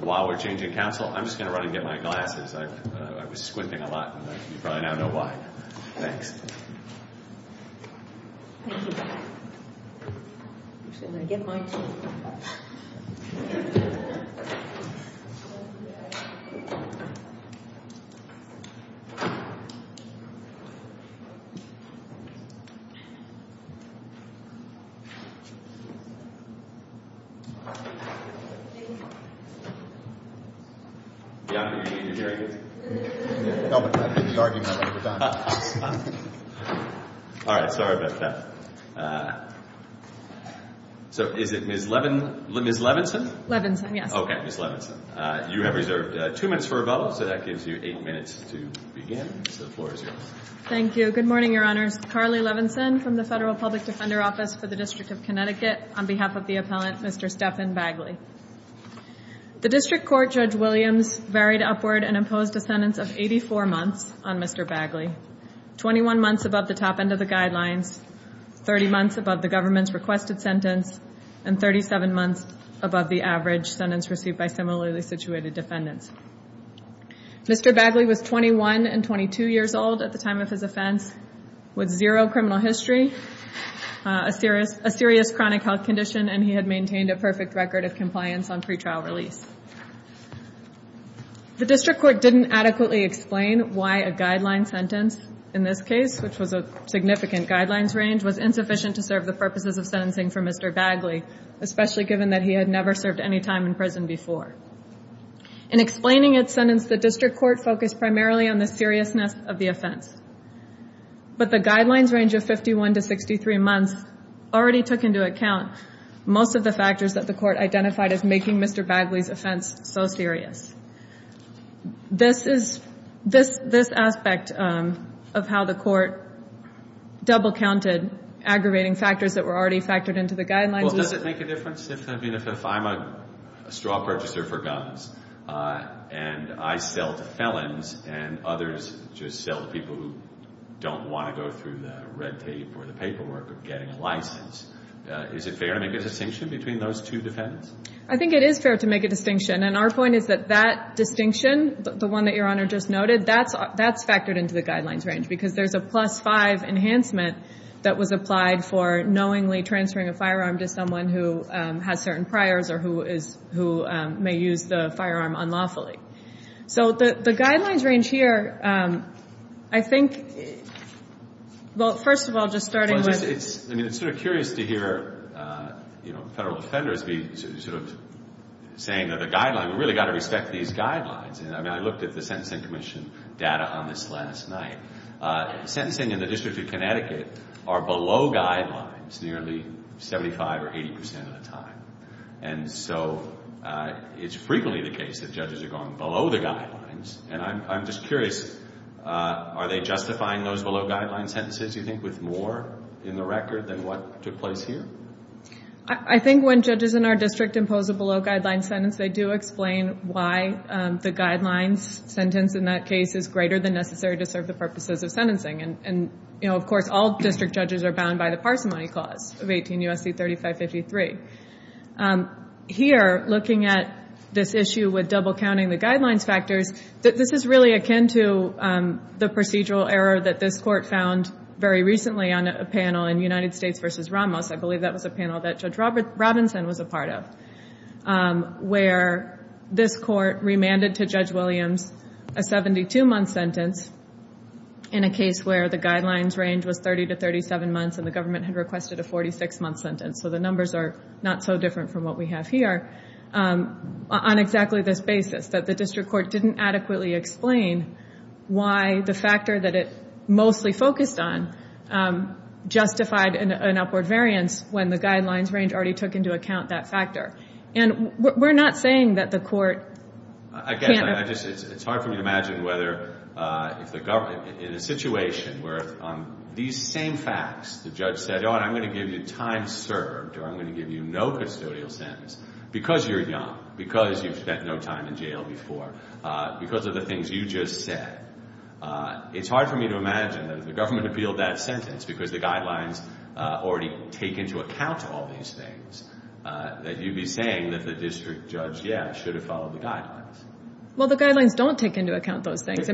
while we're changing counsel. I'm just going to run and get my glasses. I was squinting a lot. You probably now know why. Thanks. Thank you. I'm just going to get mine, too. Sorry about that. So is it Ms. Levinson? Levinson, yes. Okay, Ms. Levinson. You have reserved two minutes for a vote, so that gives you eight minutes to begin. So the floor is yours. Thank you. Good morning, Your Honors. Carly Levinson from the Federal Public Defender Office for the District of Connecticut on behalf of the appellant Mr. Stephan Bagley. The District Court Judge Williams varied upward and imposed a sentence of 84 months on Mr. Bagley. 21 months above the top end of the guidelines, 30 months above the government's requested sentence, and 37 months above the average sentence received by similarly situated defendants. Mr. Bagley was 21 and 22 years old at the time of his offense with zero criminal history, a serious chronic health condition, and he had maintained a perfect record of compliance on pretrial release. The District Court didn't adequately explain why a guideline sentence in this case, which was a significant guidelines range, was insufficient to serve the purposes of sentencing for Mr. Bagley, especially given that he had never served any time in prison before. In explaining its sentence, the District Court focused primarily on the seriousness of the offense. But the guidelines range of 51 to 63 months already took into account most of the factors that the Court identified as making Mr. Bagley's offense. so serious. This aspect of how the Court double counted aggravating factors that were already factored into the guidelines. Well, does it make a difference if I'm a straw purchaser for guns and I sell to felons and others just sell to people who don't want to go through the red tape or the paperwork of getting a license? Is it fair to make a distinction between those two defendants? I think it is fair to make a distinction. And our point is that that distinction, the one that Your Honor just noted, that's factored into the guidelines range, because there's a plus-five enhancement that was applied for knowingly transferring a firearm to someone who has certain priors or who may use the firearm unlawfully. So the guidelines range here, I think, well, first of all, just starting with Well, I mean, it's sort of curious to hear federal offenders be sort of saying that the guidelines, we've really got to respect these guidelines. I mean, I looked at the Sentencing Commission data on this last night. Sentencing in the District of Connecticut are below guidelines nearly 75 or 80 percent of the time. And so it's frequently the case that judges are going below the guidelines. And I'm just curious, are they justifying those below-guidelines sentences, you think, with more in the record than what took place here? I think when judges in our district impose a below-guidelines sentence, they do explain why the guidelines sentence in that case is greater than necessary to serve the purposes of sentencing. And, you know, of course, all district judges are bound by the Parsimony Clause of 18 U.S.C. 3553. Here, looking at this issue with double-counting the guidelines factors, this is really akin to the procedural error that this Court found very recently on a panel in United States v. Ramos. I believe that was a panel that Judge Robinson was a part of, where this Court remanded to Judge Williams a 72-month sentence in a case where the guidelines range was 30 to 37 months and the government had requested a 46-month sentence. So the numbers are not so different from what we have here on exactly this basis, that the district court didn't adequately explain why the factor that it mostly focused on justified an upward variance when the guidelines range already took into account that factor. And we're not saying that the court can't... It's hard for me to imagine whether if the government... In a situation where these same facts, the judge said, oh, I'm going to give you time served or I'm going to give you no custodial sentence because you're young, because you've spent no time in jail before, because of the things you just said. It's hard for me to imagine that if the government appealed that sentence because the guidelines already take into account all these things, that you'd be saying that the district judge, yeah, should have followed the guidelines. Well, the guidelines don't take into account those things. The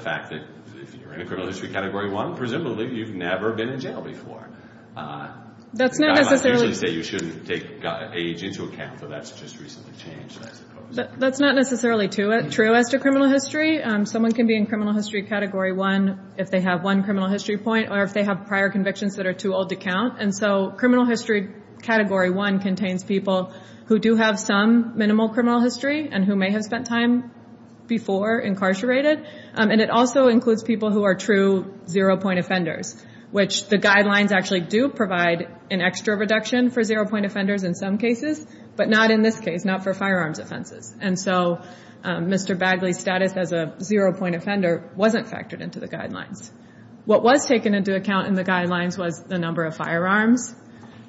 fact that if you're in a criminal history Category 1, presumably you've never been in jail before. The guidelines usually say you shouldn't take age into account, but that's just recently changed, I suppose. That's not necessarily true as to criminal history. Someone can be in criminal history Category 1 if they have one criminal history point or if they have prior convictions that are too old to count. Criminal history Category 1 contains people who do have some minimal criminal history and who may have spent time before incarcerated. And it also includes people who are true zero-point offenders, which the guidelines actually do provide an extra reduction for zero-point offenders in some cases, but not in this case, not for firearms offenses. And so Mr. Bagley's status as a zero-point offender wasn't factored into the guidelines. What was taken into account in the guidelines was the number of firearms,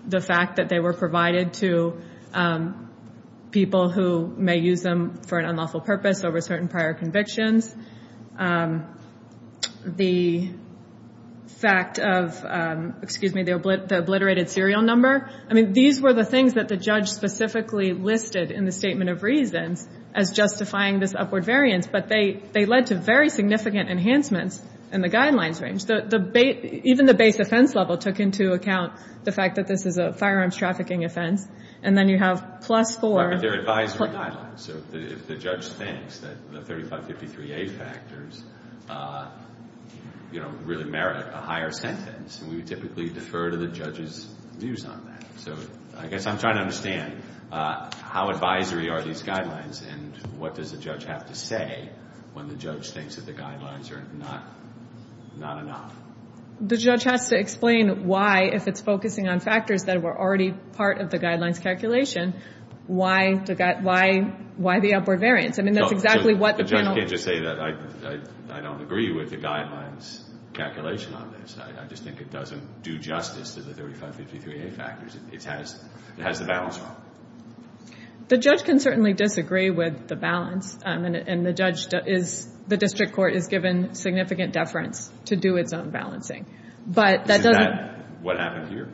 the fact that they were provided to people who may use them for an unlawful purpose over certain prior convictions, the fact of, excuse me, the obliterated serial number. I mean, these were the things that the judge specifically listed in the statement of reasons as justifying this upward variance, but they led to very significant enhancements in the guidelines range. Even the base offense level took into account the fact that this is a firearms trafficking offense. And then you have plus four. And so these PDA factors, you know, really merit a higher sentence. And we would typically defer to the judge's views on that. So I guess I'm trying to understand how advisory are these guidelines, and what does the judge have to say when the judge thinks that the guidelines are not enough? The judge has to explain why, if it's focusing on factors that were already part of the guidelines calculation, why the upward variance. I mean, that's exactly what the panel. The judge can't just say that I don't agree with the guidelines calculation on this. I just think it doesn't do justice to the 3553A factors. It has the balance wrong. The judge can certainly disagree with the balance, and the district court is given significant deference to do its own balancing. Is that what happened here?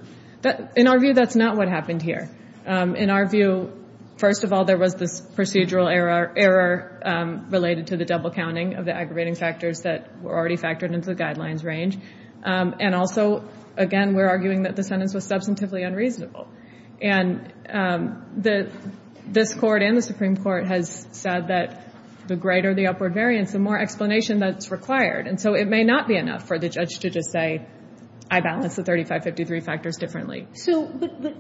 In our view, that's not what happened here. In our view, first of all, there was this procedural error related to the double counting of the aggravating factors that were already factored into the guidelines range. And also, again, we're arguing that the sentence was substantively unreasonable. And this Court and the Supreme Court has said that the greater the upward variance, the more explanation that's required. And so it may not be enough for the judge to just say, I balanced the 3553 factors differently. But,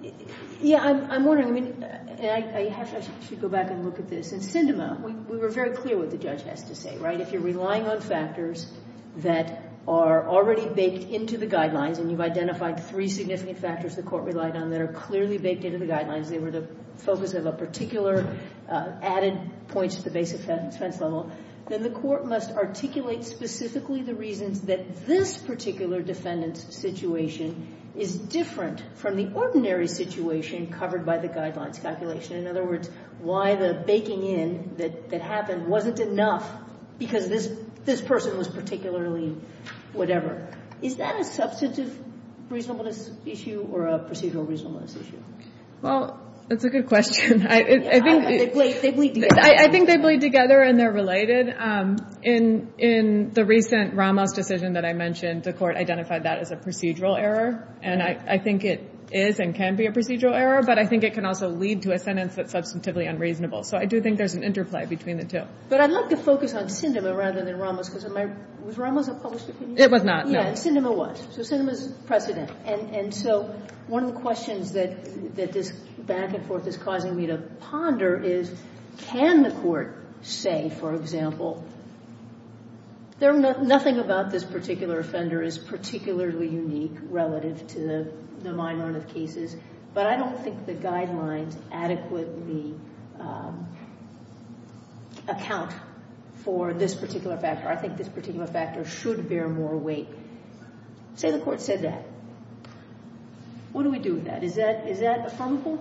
yeah, I'm wondering, and I should go back and look at this. In Sindema, we were very clear what the judge has to say, right? If you're relying on factors that are already baked into the guidelines, and you've identified three significant factors the Court relied on that are clearly baked into the guidelines, they were the focus of a particular added point to the base offense level, then the Court must articulate specifically the reasons that this particular defendant's situation is different from the ordinary situation covered by the guidelines calculation. In other words, why the baking in that happened wasn't enough because this person was particularly whatever. Is that a substantive reasonableness issue or a procedural reasonableness issue? Well, that's a good question. I think they bleed together and they're related. In the recent Ramos decision that I mentioned, the Court identified that as a procedural error. And I think it is and can be a procedural error. But I think it can also lead to a sentence that's substantively unreasonable. So I do think there's an interplay between the two. But I'd like to focus on Sindema rather than Ramos, because was Ramos a published opinion? It was not, no. Yeah, and Sindema was. So Sindema's precedent. And so one of the questions that this back-and-forth is causing me to ponder is, can the Court say, for example, nothing about this particular offender is particularly unique relative to the minority of cases, but I don't think the guidelines adequately account for this particular factor. I think this particular factor should bear more weight. Say the Court said that. What do we do with that? Is that affirmable?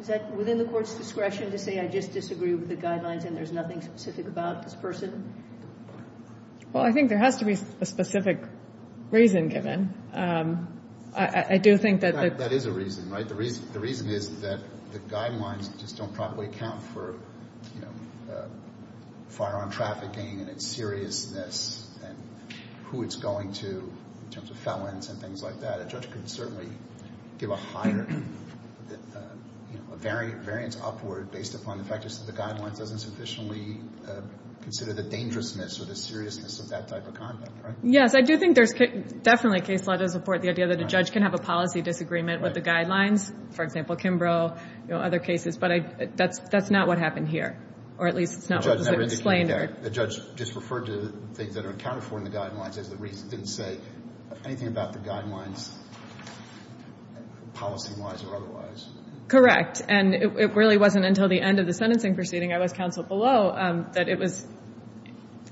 Is that within the Court's discretion to say I just disagree with the guidelines and there's nothing specific about this person? Well, I think there has to be a specific reason given. That is a reason, right? The reason is that the guidelines just don't properly account for firearm trafficking and its seriousness and who it's going to in terms of felons and things like that. A judge can certainly give a higher variance upward based upon the fact just that the guidelines doesn't sufficiently consider the dangerousness or the seriousness of that type of conduct, right? Yes, I do think there's definitely case law to support the idea that a judge can have a policy disagreement with the guidelines, for example, Kimbrough, you know, other cases, but that's not what happened here, or at least it's not what was explained here. The judge just referred to things that are accounted for in the guidelines as the reason it didn't say anything about the guidelines policy-wise or otherwise. Correct. And it really wasn't until the end of the sentencing proceeding I was counseled below that it was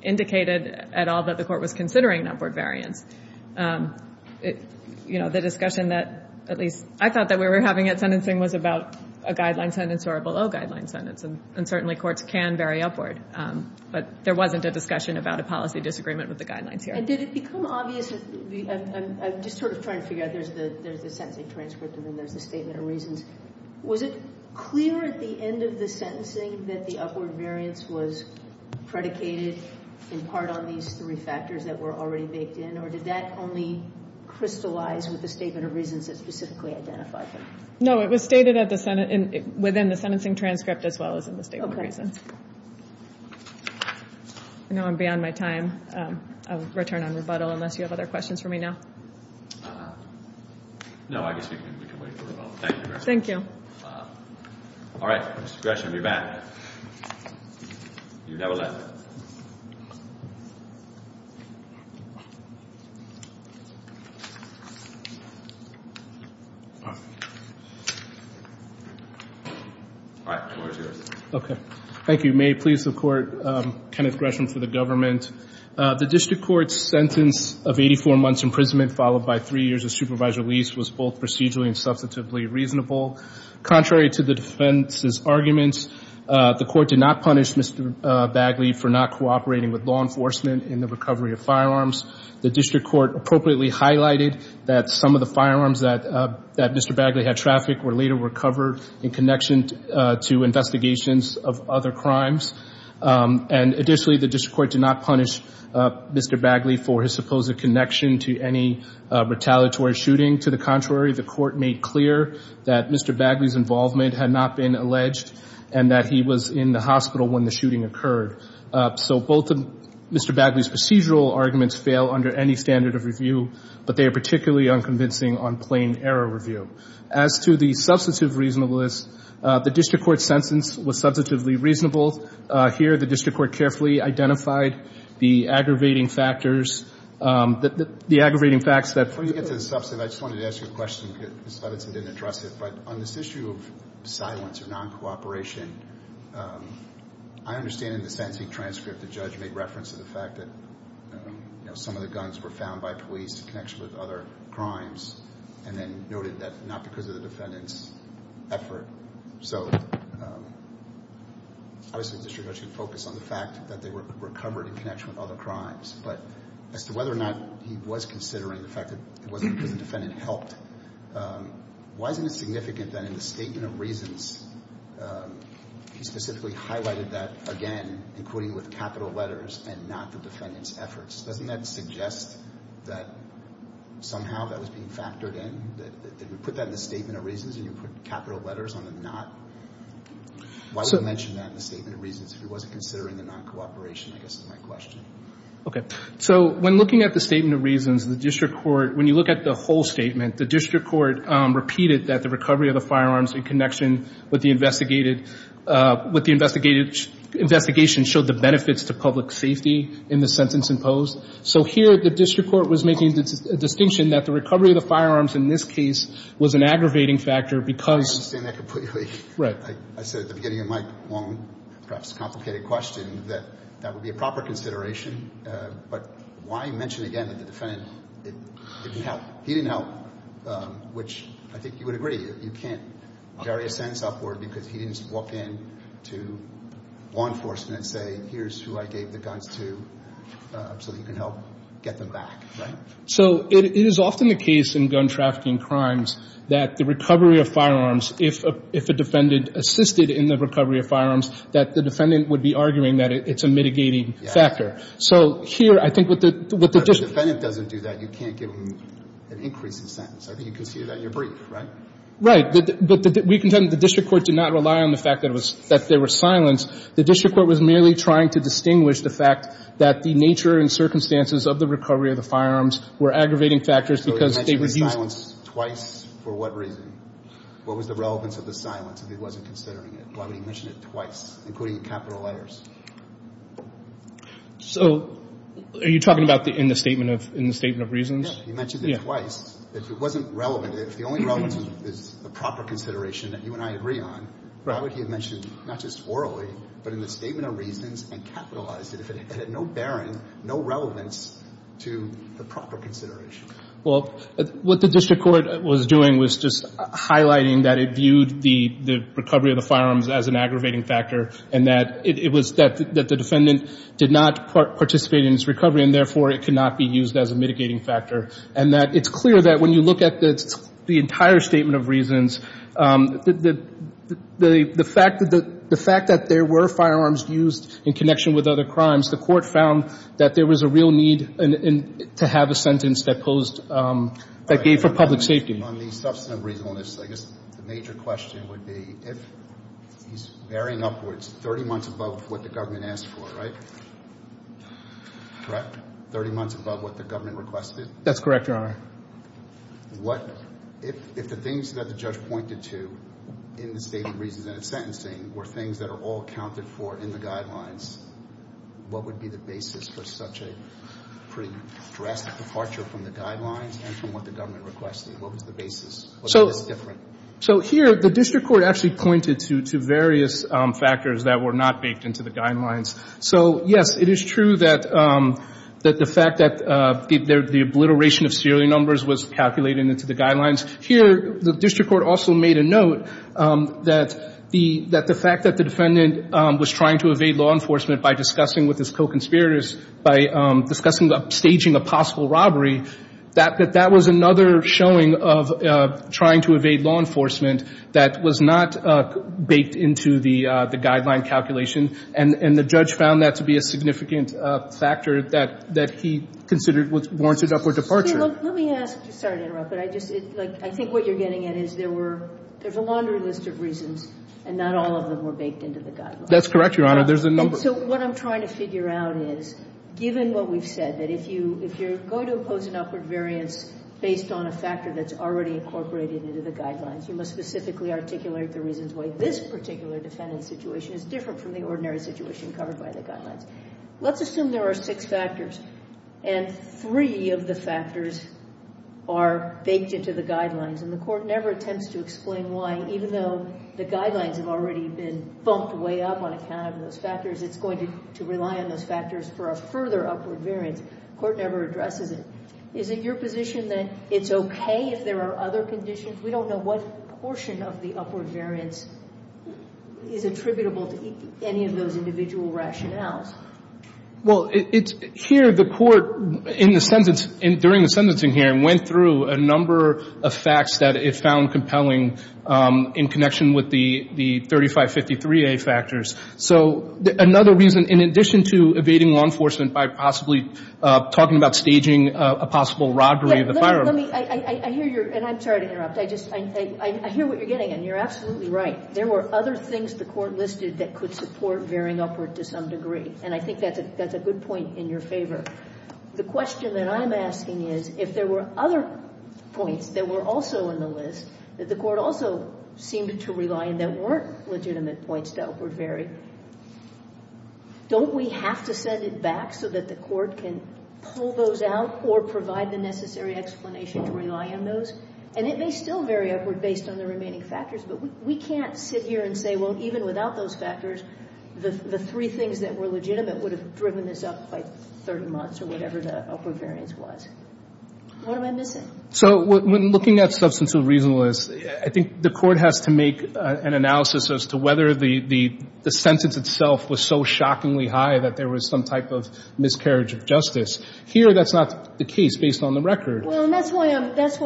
indicated at all that the court was considering an upward variance. You know, the discussion that at least I thought that we were having at sentencing was about a guideline sentence or a below-guideline sentence, and certainly courts can vary upward, but there wasn't a discussion about a policy disagreement with the guidelines here. And did it become obvious, and I'm just sort of trying to figure out, there's the sentencing transcript and then there's the statement of reasons. Was it clear at the end of the sentencing that the upward variance was predicated in part on these three factors that were already baked in, or did that only crystallize with the statement of reasons that specifically identified them? No, it was stated within the sentencing transcript as well as in the statement of reasons. I know I'm beyond my time. I'll return on rebuttal unless you have other questions for me now. No, I guess we can wait for rebuttal. Thank you very much. Thank you. All right. Mr. Gresham, you're back. You have 11. All right. The floor is yours. Okay. Thank you. May it please the Court, Kenneth Gresham for the government. The district court's sentence of 84 months imprisonment followed by three years of supervisory release was both procedurally and substantively reasonable. Contrary to the defense's arguments, the court did not punish Mr. Bagley for not cooperating with law enforcement in the recovery of firearms. The district court appropriately highlighted that some of the firearms that Mr. Bagley had trafficked were later recovered in connection to investigations of other crimes. And additionally, the district court did not punish Mr. Bagley for his supposed connection to any retaliatory shooting. To the contrary, the court made clear that Mr. Bagley's involvement had not been alleged and that he was in the hospital when the shooting occurred. So both of Mr. Bagley's procedural arguments fail under any standard of review, but they are particularly unconvincing on plain error review. As to the substantive reasonableness, the district court's sentence was substantively reasonable. Here, the district court carefully identified the aggravating factors, the aggravating facts that Before you get to the substantive, I just wanted to ask you a question because Ms. Levinson didn't address it, but on this issue of silence or non-cooperation, I understand in the sentencing transcript the judge made reference to the fact that, you know, some of the guns were found by police in connection with other crimes and then noted that not because of the defendant's effort. So obviously the district court should focus on the fact that they were recovered in connection with other crimes. But as to whether or not he was considering the fact that it wasn't because the defendant helped, why isn't it significant that in the statement of reasons, he specifically highlighted that again, including with capital letters, and not the defendant's efforts? Doesn't that suggest that somehow that was being factored in, that you put that in the statement of reasons and you put capital letters on the not? Why would he mention that in the statement of reasons if he wasn't considering the non-cooperation, I guess, is my question. Okay. So when looking at the statement of reasons, the district court, when you look at the whole statement, the district court repeated that the recovery of the firearms in connection with the investigated, investigation showed the benefits to public safety in the sentence imposed. So here the district court was making a distinction that the recovery of the firearms in this case was an aggravating factor because. I understand that completely. Right. I said at the beginning of my long, perhaps complicated question, that that would be a proper consideration. But why mention again that the defendant didn't help? He didn't help, which I think you would agree. You can't vary a sentence upward because he didn't walk in to law enforcement and say, here's who I gave the guns to so that you can help get them back. Right? So it is often the case in gun trafficking crimes that the recovery of firearms, if a defendant assisted in the recovery of firearms, that the defendant would be arguing that it's a mitigating factor. So here I think what the district court. If the defendant doesn't do that, you can't give him an increase in sentence. I think you can see that in your brief, right? Right. But we contend that the district court did not rely on the fact that there was silence. The district court was merely trying to distinguish the fact that the nature and circumstances of the recovery of the firearms were aggravating factors because they were used. So he mentioned the silence twice for what reason? What was the relevance of the silence if he wasn't considering it? Why would he mention it twice, including capital letters? So are you talking about in the statement of reasons? Yeah. He mentioned it twice. If it wasn't relevant, if the only relevance is the proper consideration that you and I agree on, why would he have mentioned, not just orally, but in the statement of reasons and capitalized it if it had no bearing, no relevance to the proper consideration? Well, what the district court was doing was just highlighting that it viewed the recovery of the firearms as an aggravating factor and that it was that the defendant did not participate in its recovery and, therefore, it could not be used as a mitigating factor and that it's clear that when you look at the entire statement of reasons, the fact that there were firearms used in connection with other crimes, the court found that there was a real need to have a sentence that posed, that gave for public safety. On the substantive reasonableness, I guess the major question would be, if he's bearing upwards 30 months above what the government asked for, right? Correct? 30 months above what the government requested? That's correct, Your Honor. If the things that the judge pointed to in the statement of reasons and its sentencing were things that are all accounted for in the guidelines, what would be the basis for such a pretty drastic departure from the guidelines and from what the government requested? What was the basis? So here, the district court actually pointed to various factors that were not baked into the guidelines. So, yes, it is true that the fact that the obliteration of serial numbers was calculated into the guidelines. Here, the district court also made a note that the fact that the defendant was trying to evade law enforcement by discussing with his co-conspirators, by discussing staging a possible robbery, that that was another showing of trying to evade law enforcement that was not baked into the guideline calculation and the judge found that to be a significant factor that he considered warranted upward departure. Let me ask. Sorry to interrupt. I think what you're getting at is there's a laundry list of reasons and not all of them were baked into the guidelines. That's correct, Your Honor. There's a number. So what I'm trying to figure out is, given what we've said, that if you're going to impose an upward variance based on a factor that's already incorporated into the guidelines, you must specifically articulate the reasons why this particular defendant's situation is different from the ordinary situation covered by the guidelines. Let's assume there are six factors and three of the factors are baked into the guidelines and the court never attempts to explain why, even though the guidelines have already been bumped way up on account of those factors, it's going to rely on those factors for a further upward variance. The court never addresses it. Is it your position that it's okay if there are other conditions? We don't know what portion of the upward variance is attributable to any of those individual rationales. Well, here the court, during the sentencing hearing, went through a number of facts that it found compelling in connection with the 3553A factors. So another reason, in addition to evading law enforcement by possibly talking about staging a possible robbery of the firearm. I'm sorry to interrupt. I hear what you're getting and you're absolutely right. There were other things the court listed that could support varying upward to some degree and I think that's a good point in your favor. The question that I'm asking is if there were other points that were also in the list that the court also seemed to rely on that weren't legitimate points to upward vary, don't we have to set it back so that the court can pull those out or provide the necessary explanation to rely on those? And it may still vary upward based on the remaining factors, but we can't sit here and say, well, even without those factors, the three things that were legitimate would have driven this up by 30 months or whatever the upward variance was. What am I missing? So when looking at substance of reasonableness, I think the court has to make an analysis as to whether the sentence itself was so shockingly high that there was some type of miscarriage of justice. Here, that's not the case based on the record. Well, and that's why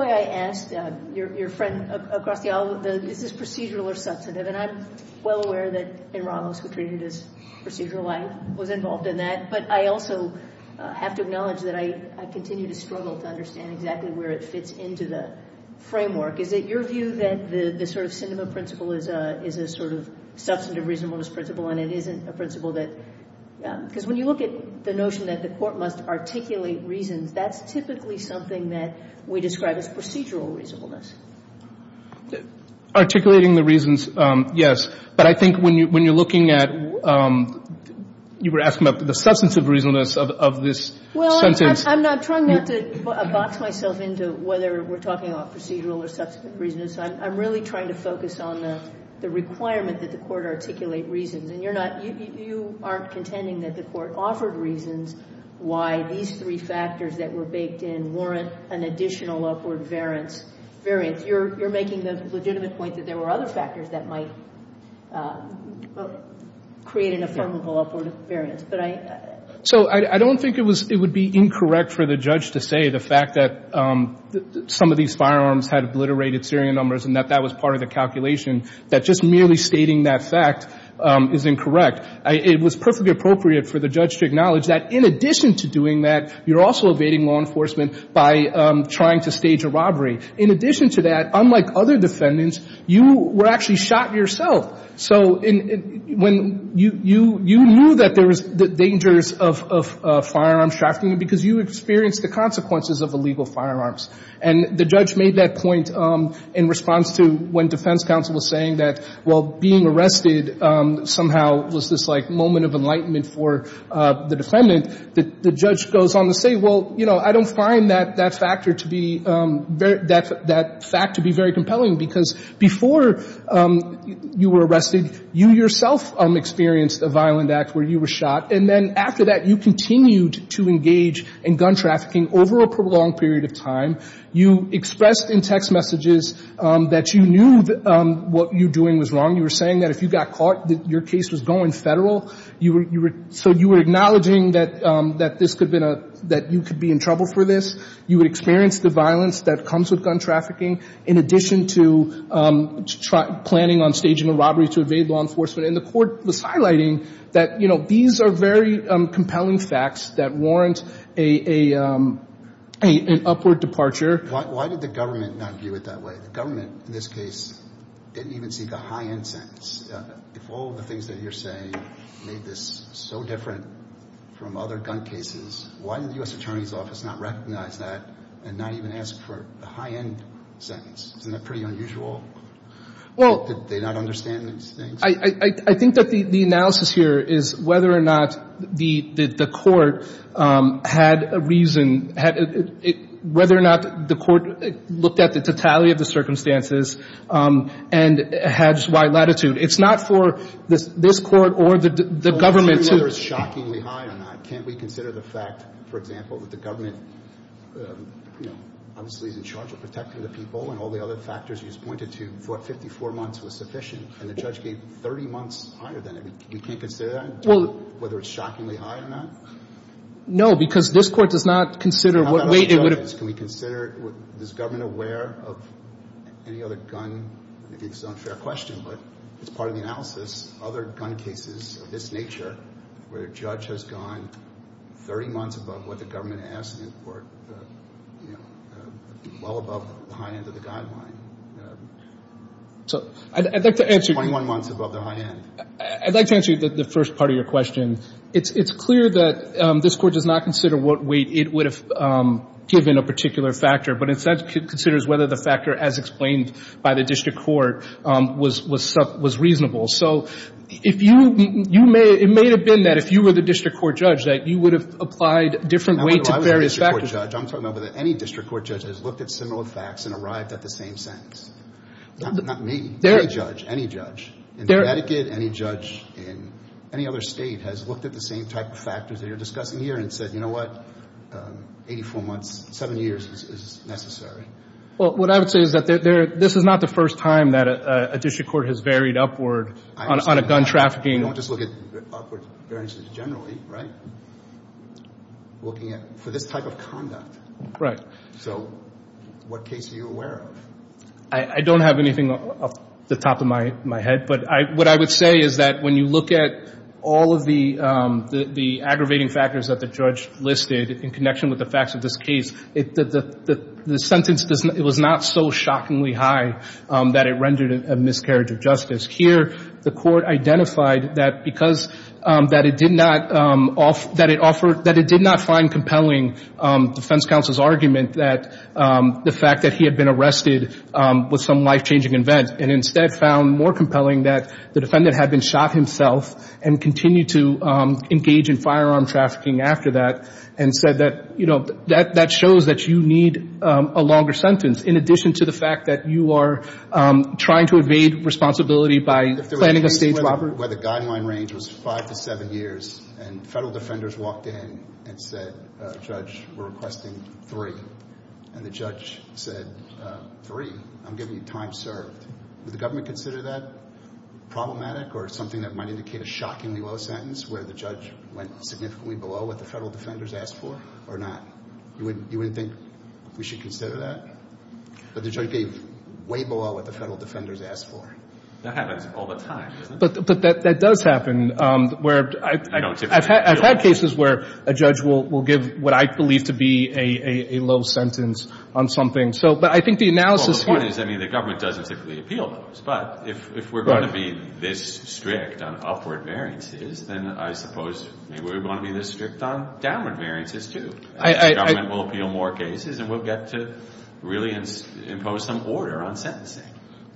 I asked your friend across the aisle, is this procedural or substantive? And I'm well aware that Ben Ramos, who treated it as procedural, was involved in that. But I also have to acknowledge that I continue to struggle to understand exactly where it fits into the framework. Is it your view that the sort of Sinema principle is a sort of substantive reasonableness principle and it isn't a principle that — because when you look at the notion that the court must articulate reasons, that's typically something that we describe as procedural reasonableness. Articulating the reasons, yes. But I think when you're looking at — you were asking about the substantive reasonableness of this sentence. Well, I'm trying not to box myself into whether we're talking about procedural or substantive reasonableness. I'm really trying to focus on the requirement that the court articulate reasons. And you're not — you aren't contending that the court offered reasons why these three factors that were baked in warrant an additional upward variance. You're making the legitimate point that there were other factors that might create an affirmable upward variance. But I — So I don't think it was — it would be incorrect for the judge to say the fact that some of these firearms had obliterated serial numbers and that that was part of the calculation, that just merely stating that fact is incorrect. It was perfectly appropriate for the judge to acknowledge that in addition to doing that, you're also evading law enforcement by trying to stage a robbery. In addition to that, unlike other defendants, you were actually shot yourself. So when — you knew that there was dangers of firearms trafficking because you experienced the consequences of illegal firearms. And the judge made that point in response to when defense counsel was saying that while being arrested somehow was this like moment of enlightenment for the defendant, the judge goes on to say, well, you know, I don't find that factor to be — that fact to be very compelling because before you were arrested, you yourself experienced a violent act where you were shot. And then after that, you continued to engage in gun trafficking over a prolonged period of time. You expressed in text messages that you knew what you were doing was wrong. You were saying that if you got caught, your case was going federal. You were — so you were acknowledging that this could have been a — that you could be in trouble for this. You would experience the violence that comes with gun trafficking in addition to planning on staging a robbery to evade law enforcement. And the court was highlighting that, you know, these are very compelling facts that warrant an upward departure. Why did the government not view it that way? The government in this case didn't even seek a high-end sentence. If all the things that you're saying made this so different from other gun cases, why did the U.S. Attorney's Office not recognize that and not even ask for a high-end sentence? Isn't that pretty unusual? Well — Did they not understand these things? I think that the analysis here is whether or not the court had a reason — whether or not the court looked at the totality of the circumstances and had wide latitude. It's not for this Court or the government to — Well, I'm asking whether it's shockingly high or not. Can't we consider the fact, for example, that the government, you know, obviously is in charge of protecting the people and all the other factors you just pointed to, what, 54 months was sufficient, and the judge gave 30 months higher than it? We can't consider that? Well — Whether it's shockingly high or not? No, because this Court does not consider what — How about other judges? Can we consider — Is government aware of any other gun — I think it's an unfair question, but it's part of the analysis. Other gun cases of this nature where a judge has gone 30 months above what the government asked for, you know, well above the high end of the guideline. So — I'd like to answer — 21 months above the high end. I'd like to answer the first part of your question. It's clear that this Court does not consider what weight it would have given a particular factor, but instead considers whether the factor, as explained by the district court, was reasonable. So if you — it may have been that if you were the district court judge that you would have applied different weight to various factors. I'm talking about any district court judge that has looked at similar facts and arrived at the same sentence. Not me. Any judge. Any judge. In Connecticut, any judge, in any other state, has looked at the same type of factors that you're discussing here and said, you know what, 84 months, 7 years is necessary. Well, what I would say is that there — this is not the first time that a district court has varied upward on a gun trafficking — I understand that. You don't just look at upward variances generally, right? Looking at — for this type of conduct. Right. So what case are you aware of? I don't have anything off the top of my head, but I — what I would say is that when you look at all of the aggravating factors that the judge listed in connection with the facts of this case, the sentence was not so shockingly high that it rendered a miscarriage of justice. Here, the court identified that because — that it did not — that it offered — that it did not find compelling defense counsel's argument that the fact that he had been arrested was some life-changing event, and instead found more compelling that the defendant had been shot himself and continued to engage in firearm trafficking after that, and said that, you know, that shows that you need a longer sentence in addition to the fact that you are trying to evade responsibility by planning a staged robbery. If there was a case where the guideline range was 5 to 7 years, and federal defenders walked in and said, a judge, we're requesting 3, and the judge said, 3, I'm giving you time served. Would the government consider that problematic or something that might indicate a shockingly low sentence where the judge went significantly below what the federal defenders asked for, or not? You wouldn't think we should consider that? But the judge gave way below what the federal defenders asked for. That happens all the time, doesn't it? But that does happen, where I've had cases where a judge will give what I believe to be a low sentence on something. But I think the analysis here Well, the point is, I mean, the government doesn't typically appeal those, but if we're going to be this strict on upward variances, then I suppose maybe we're going to be this strict on downward variances, too. The government will appeal more cases and we'll get to really impose some order on sentencing.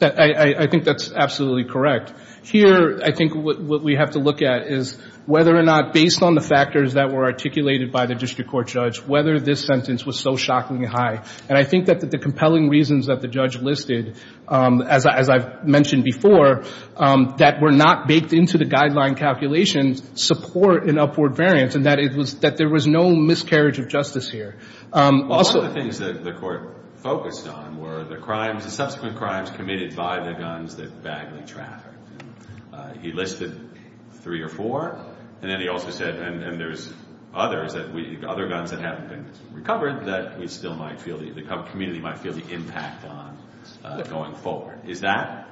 I think that's absolutely correct. Here, I think what we have to look at is whether or not, based on the factors that were articulated by the district court judge, whether this sentence was so shockingly high. And I think that the compelling reasons that the judge listed, as I've mentioned before, that were not baked into the guideline calculations, support an upward variance, and that there was no miscarriage of justice here. Also One of the things that the court focused on were the crimes, the subsequent crimes committed by the guns that Bagley trafficked. He listed three or four, and then he also said, and there's others, other guns that haven't been recovered, that the community might feel the impact on going forward. Is that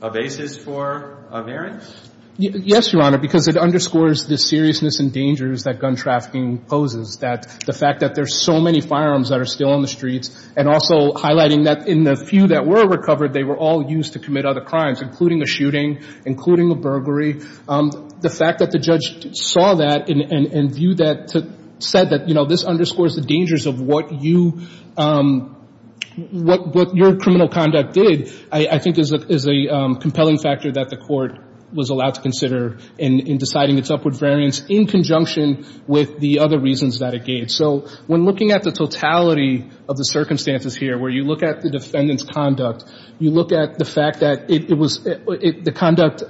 a basis for a variance? Yes, Your Honor, because it underscores the seriousness and dangers that gun trafficking poses. The fact that there's so many firearms that are still on the streets, and also highlighting that in the few that were recovered, they were all used to commit other crimes, including a shooting, including a burglary. The fact that the judge saw that and said that this underscores the dangers of what you what your criminal conduct did, I think is a compelling factor that the court was allowed to consider in deciding its upward variance in conjunction with the other reasons that it gave. So when looking at the totality of the circumstances here, where you look at the defendant's conduct, you look at the fact that the conduct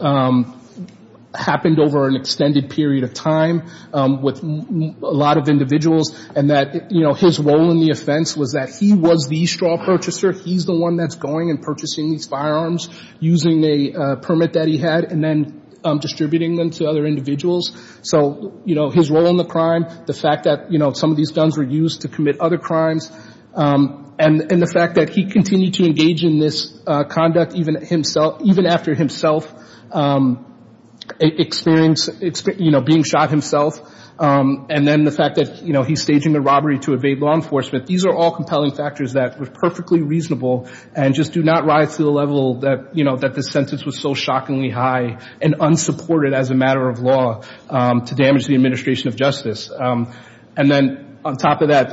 happened over an extended period of time with a lot of individuals, and that his role in the offense was that he was the straw purchaser. He's the one that's going and purchasing these firearms using a permit that he had and then distributing them to other individuals. So his role in the crime, the fact that some of these guns were used to commit other crimes, and the fact that he continued to engage in this conduct even after himself being shot himself, and then the fact that he's staging a robbery to evade law enforcement, these are all compelling factors that were perfectly reasonable and just do not rise to the level that this sentence was so shockingly high and unsupported as a matter of law to damage the administration of justice. And then on top of that,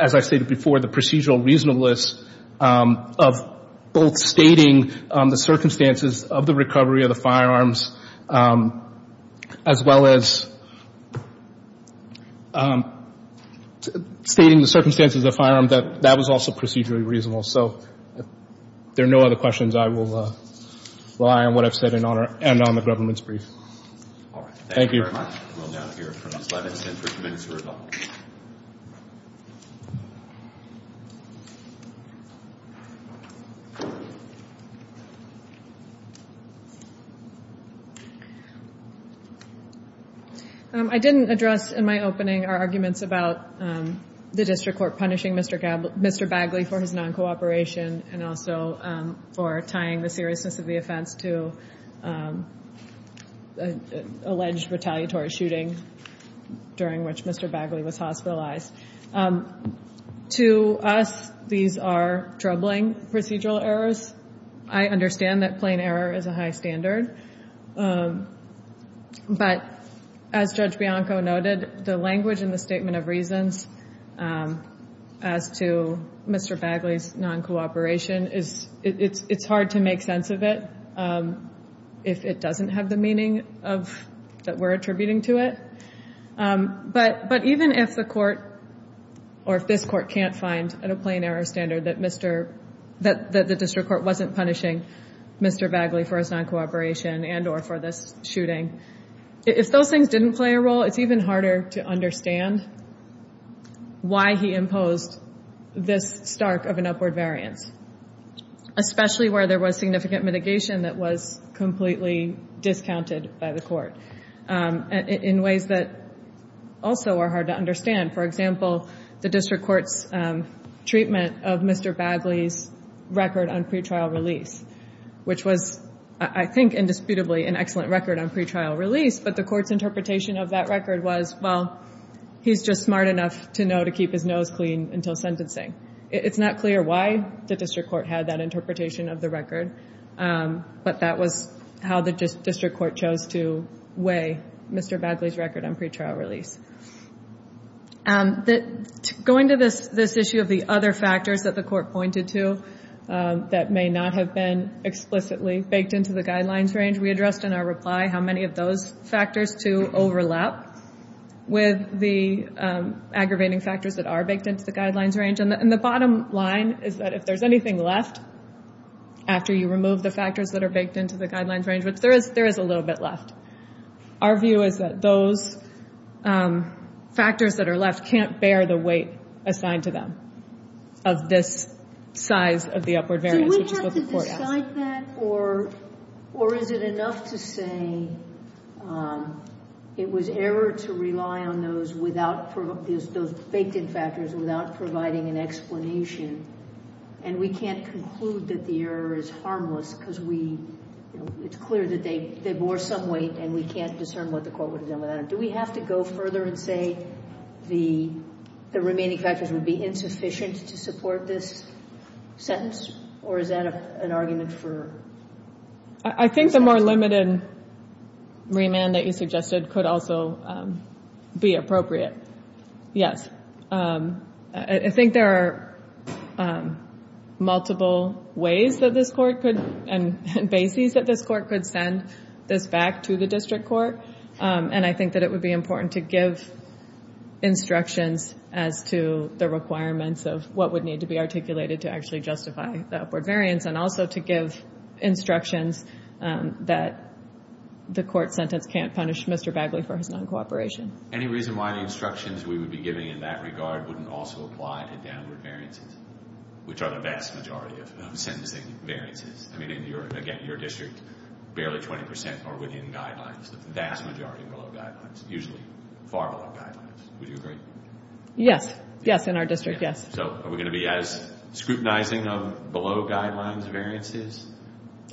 as I stated before, the procedural reasonableness of both stating the circumstances of the recovery of the firearms as well as stating the circumstances of the firearm, that was also procedurally reasonable. So if there are no other questions, I will rely on what I've said and end on the government's brief. Thank you. Thank you very much. I didn't address in my opening our arguments about the district court punishing Mr. Bagley for his non-cooperation and also for tying the seriousness of the offense to an alleged retaliatory shooting during which Mr. Bagley was hospitalized. To us, these are troubling procedural errors. I understand that plain error is a high standard, but as Judge Bianco noted, the language in the statement of reasons as to Mr. Bagley's non-cooperation, it's hard to make sense of it if it doesn't have the meaning that we're attributing to it. But even if the court, or if this court can't find at a plain error standard that the district court wasn't punishing Mr. Bagley for his non-cooperation and or for this shooting, if those things didn't play a role, it's even harder to understand why he imposed this stark of an upward variance, especially where there was significant mitigation that was completely discounted by the court in ways that also are hard to understand. For example, the district court's treatment of Mr. Bagley's record on pretrial release, which was, I think indisputably, an excellent record on pretrial release, but the court's interpretation of that record was, well, he's just smart enough to know to keep his nose clean until sentencing. It's not clear why the district court had that interpretation of the record, but that was how the district court chose to weigh Mr. Bagley's record on pretrial release. Going to this issue of the other factors that the court pointed to that may not have been explicitly baked into the guidelines range, we addressed in our reply how many of those factors, too, overlap with the aggravating factors that are baked into the guidelines range. And the bottom line is that if there's anything left after you remove the factors that are baked into the guidelines range, there is a little bit left. Our view is that those factors that are left can't bear the weight assigned to them of this size of the upward variance, which is what the court asked. Is it like that, or is it enough to say it was error to rely on those faked-in factors without providing an explanation, and we can't conclude that the error is harmless because it's clear that they bore some weight and we can't discern what the court would have done without it? Do we have to go further and say the remaining factors would be insufficient to support this sentence, or is that an argument for... I think the more limited remand that you suggested could also be appropriate, yes. I think there are multiple ways that this court could, and bases that this court could send this back to the district court, and I think that it would be important to give instructions as to the requirements of what would need to be articulated to actually justify the upward variance, and also to give instructions that the court sentence can't punish Mr. Bagley for his non-cooperation. Any reason why the instructions we would be giving in that regard wouldn't also apply to downward variances, which are the vast majority of sentencing variances? I mean, again, in your district, barely 20% are within guidelines, the vast majority are below guidelines, usually far below guidelines. Would you agree? Yes. Yes, in our district, yes. So are we going to be as scrutinizing of below guidelines variances?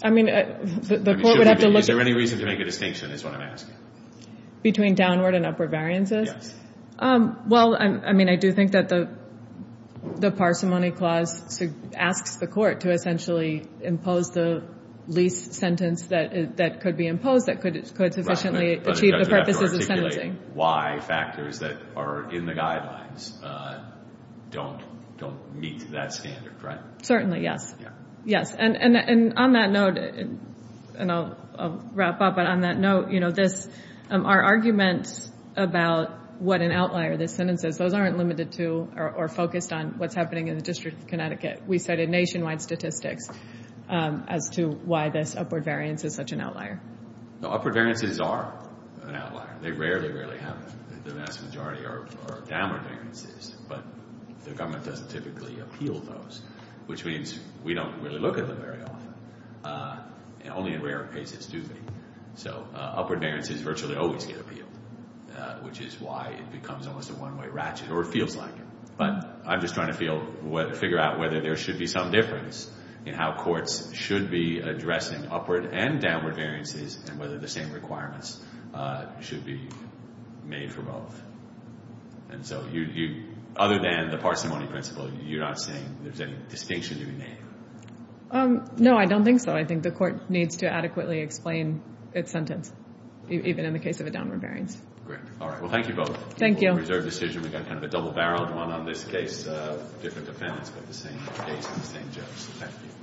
I mean, the court would have to look... Is there any reason to make a distinction is what I'm asking. Between downward and upward variances? Yes. Well, I mean, I do think that the parsimony clause asks the court to essentially impose the least sentence that could be imposed that could sufficiently achieve the purposes of sentencing. Why factors that are in the guidelines don't meet that standard, right? Certainly, yes. And on that note, and I'll wrap up, but on that note, our arguments about what an outlier this sentence is, those aren't limited to or focused on what's happening in the District of Connecticut. We cited nationwide statistics as to why this upward variance is such an outlier. No, upward variances are an outlier. They rarely, rarely happen. The vast majority are downward variances, but the government doesn't typically appeal those, which means we don't really look at them very often. Only in rare cases do they. So upward variances virtually always get appealed, which is why it becomes almost a one-way ratchet, or it feels like it. But I'm just trying to figure out whether there should be some difference in how courts should be addressing upward and downward variances and whether the same requirements should be made for both. And so, other than the parsimony principle, you're not saying there's any distinction to be made? No, I don't think so. I think the court needs to adequately explain its sentence, even in the case of a downward variance. Great. All right. Well, thank you both. Thank you. We'll reserve the decision. We've got kind of a double-barreled one on this case, different defendants, but the same case and the same judge. Thank you.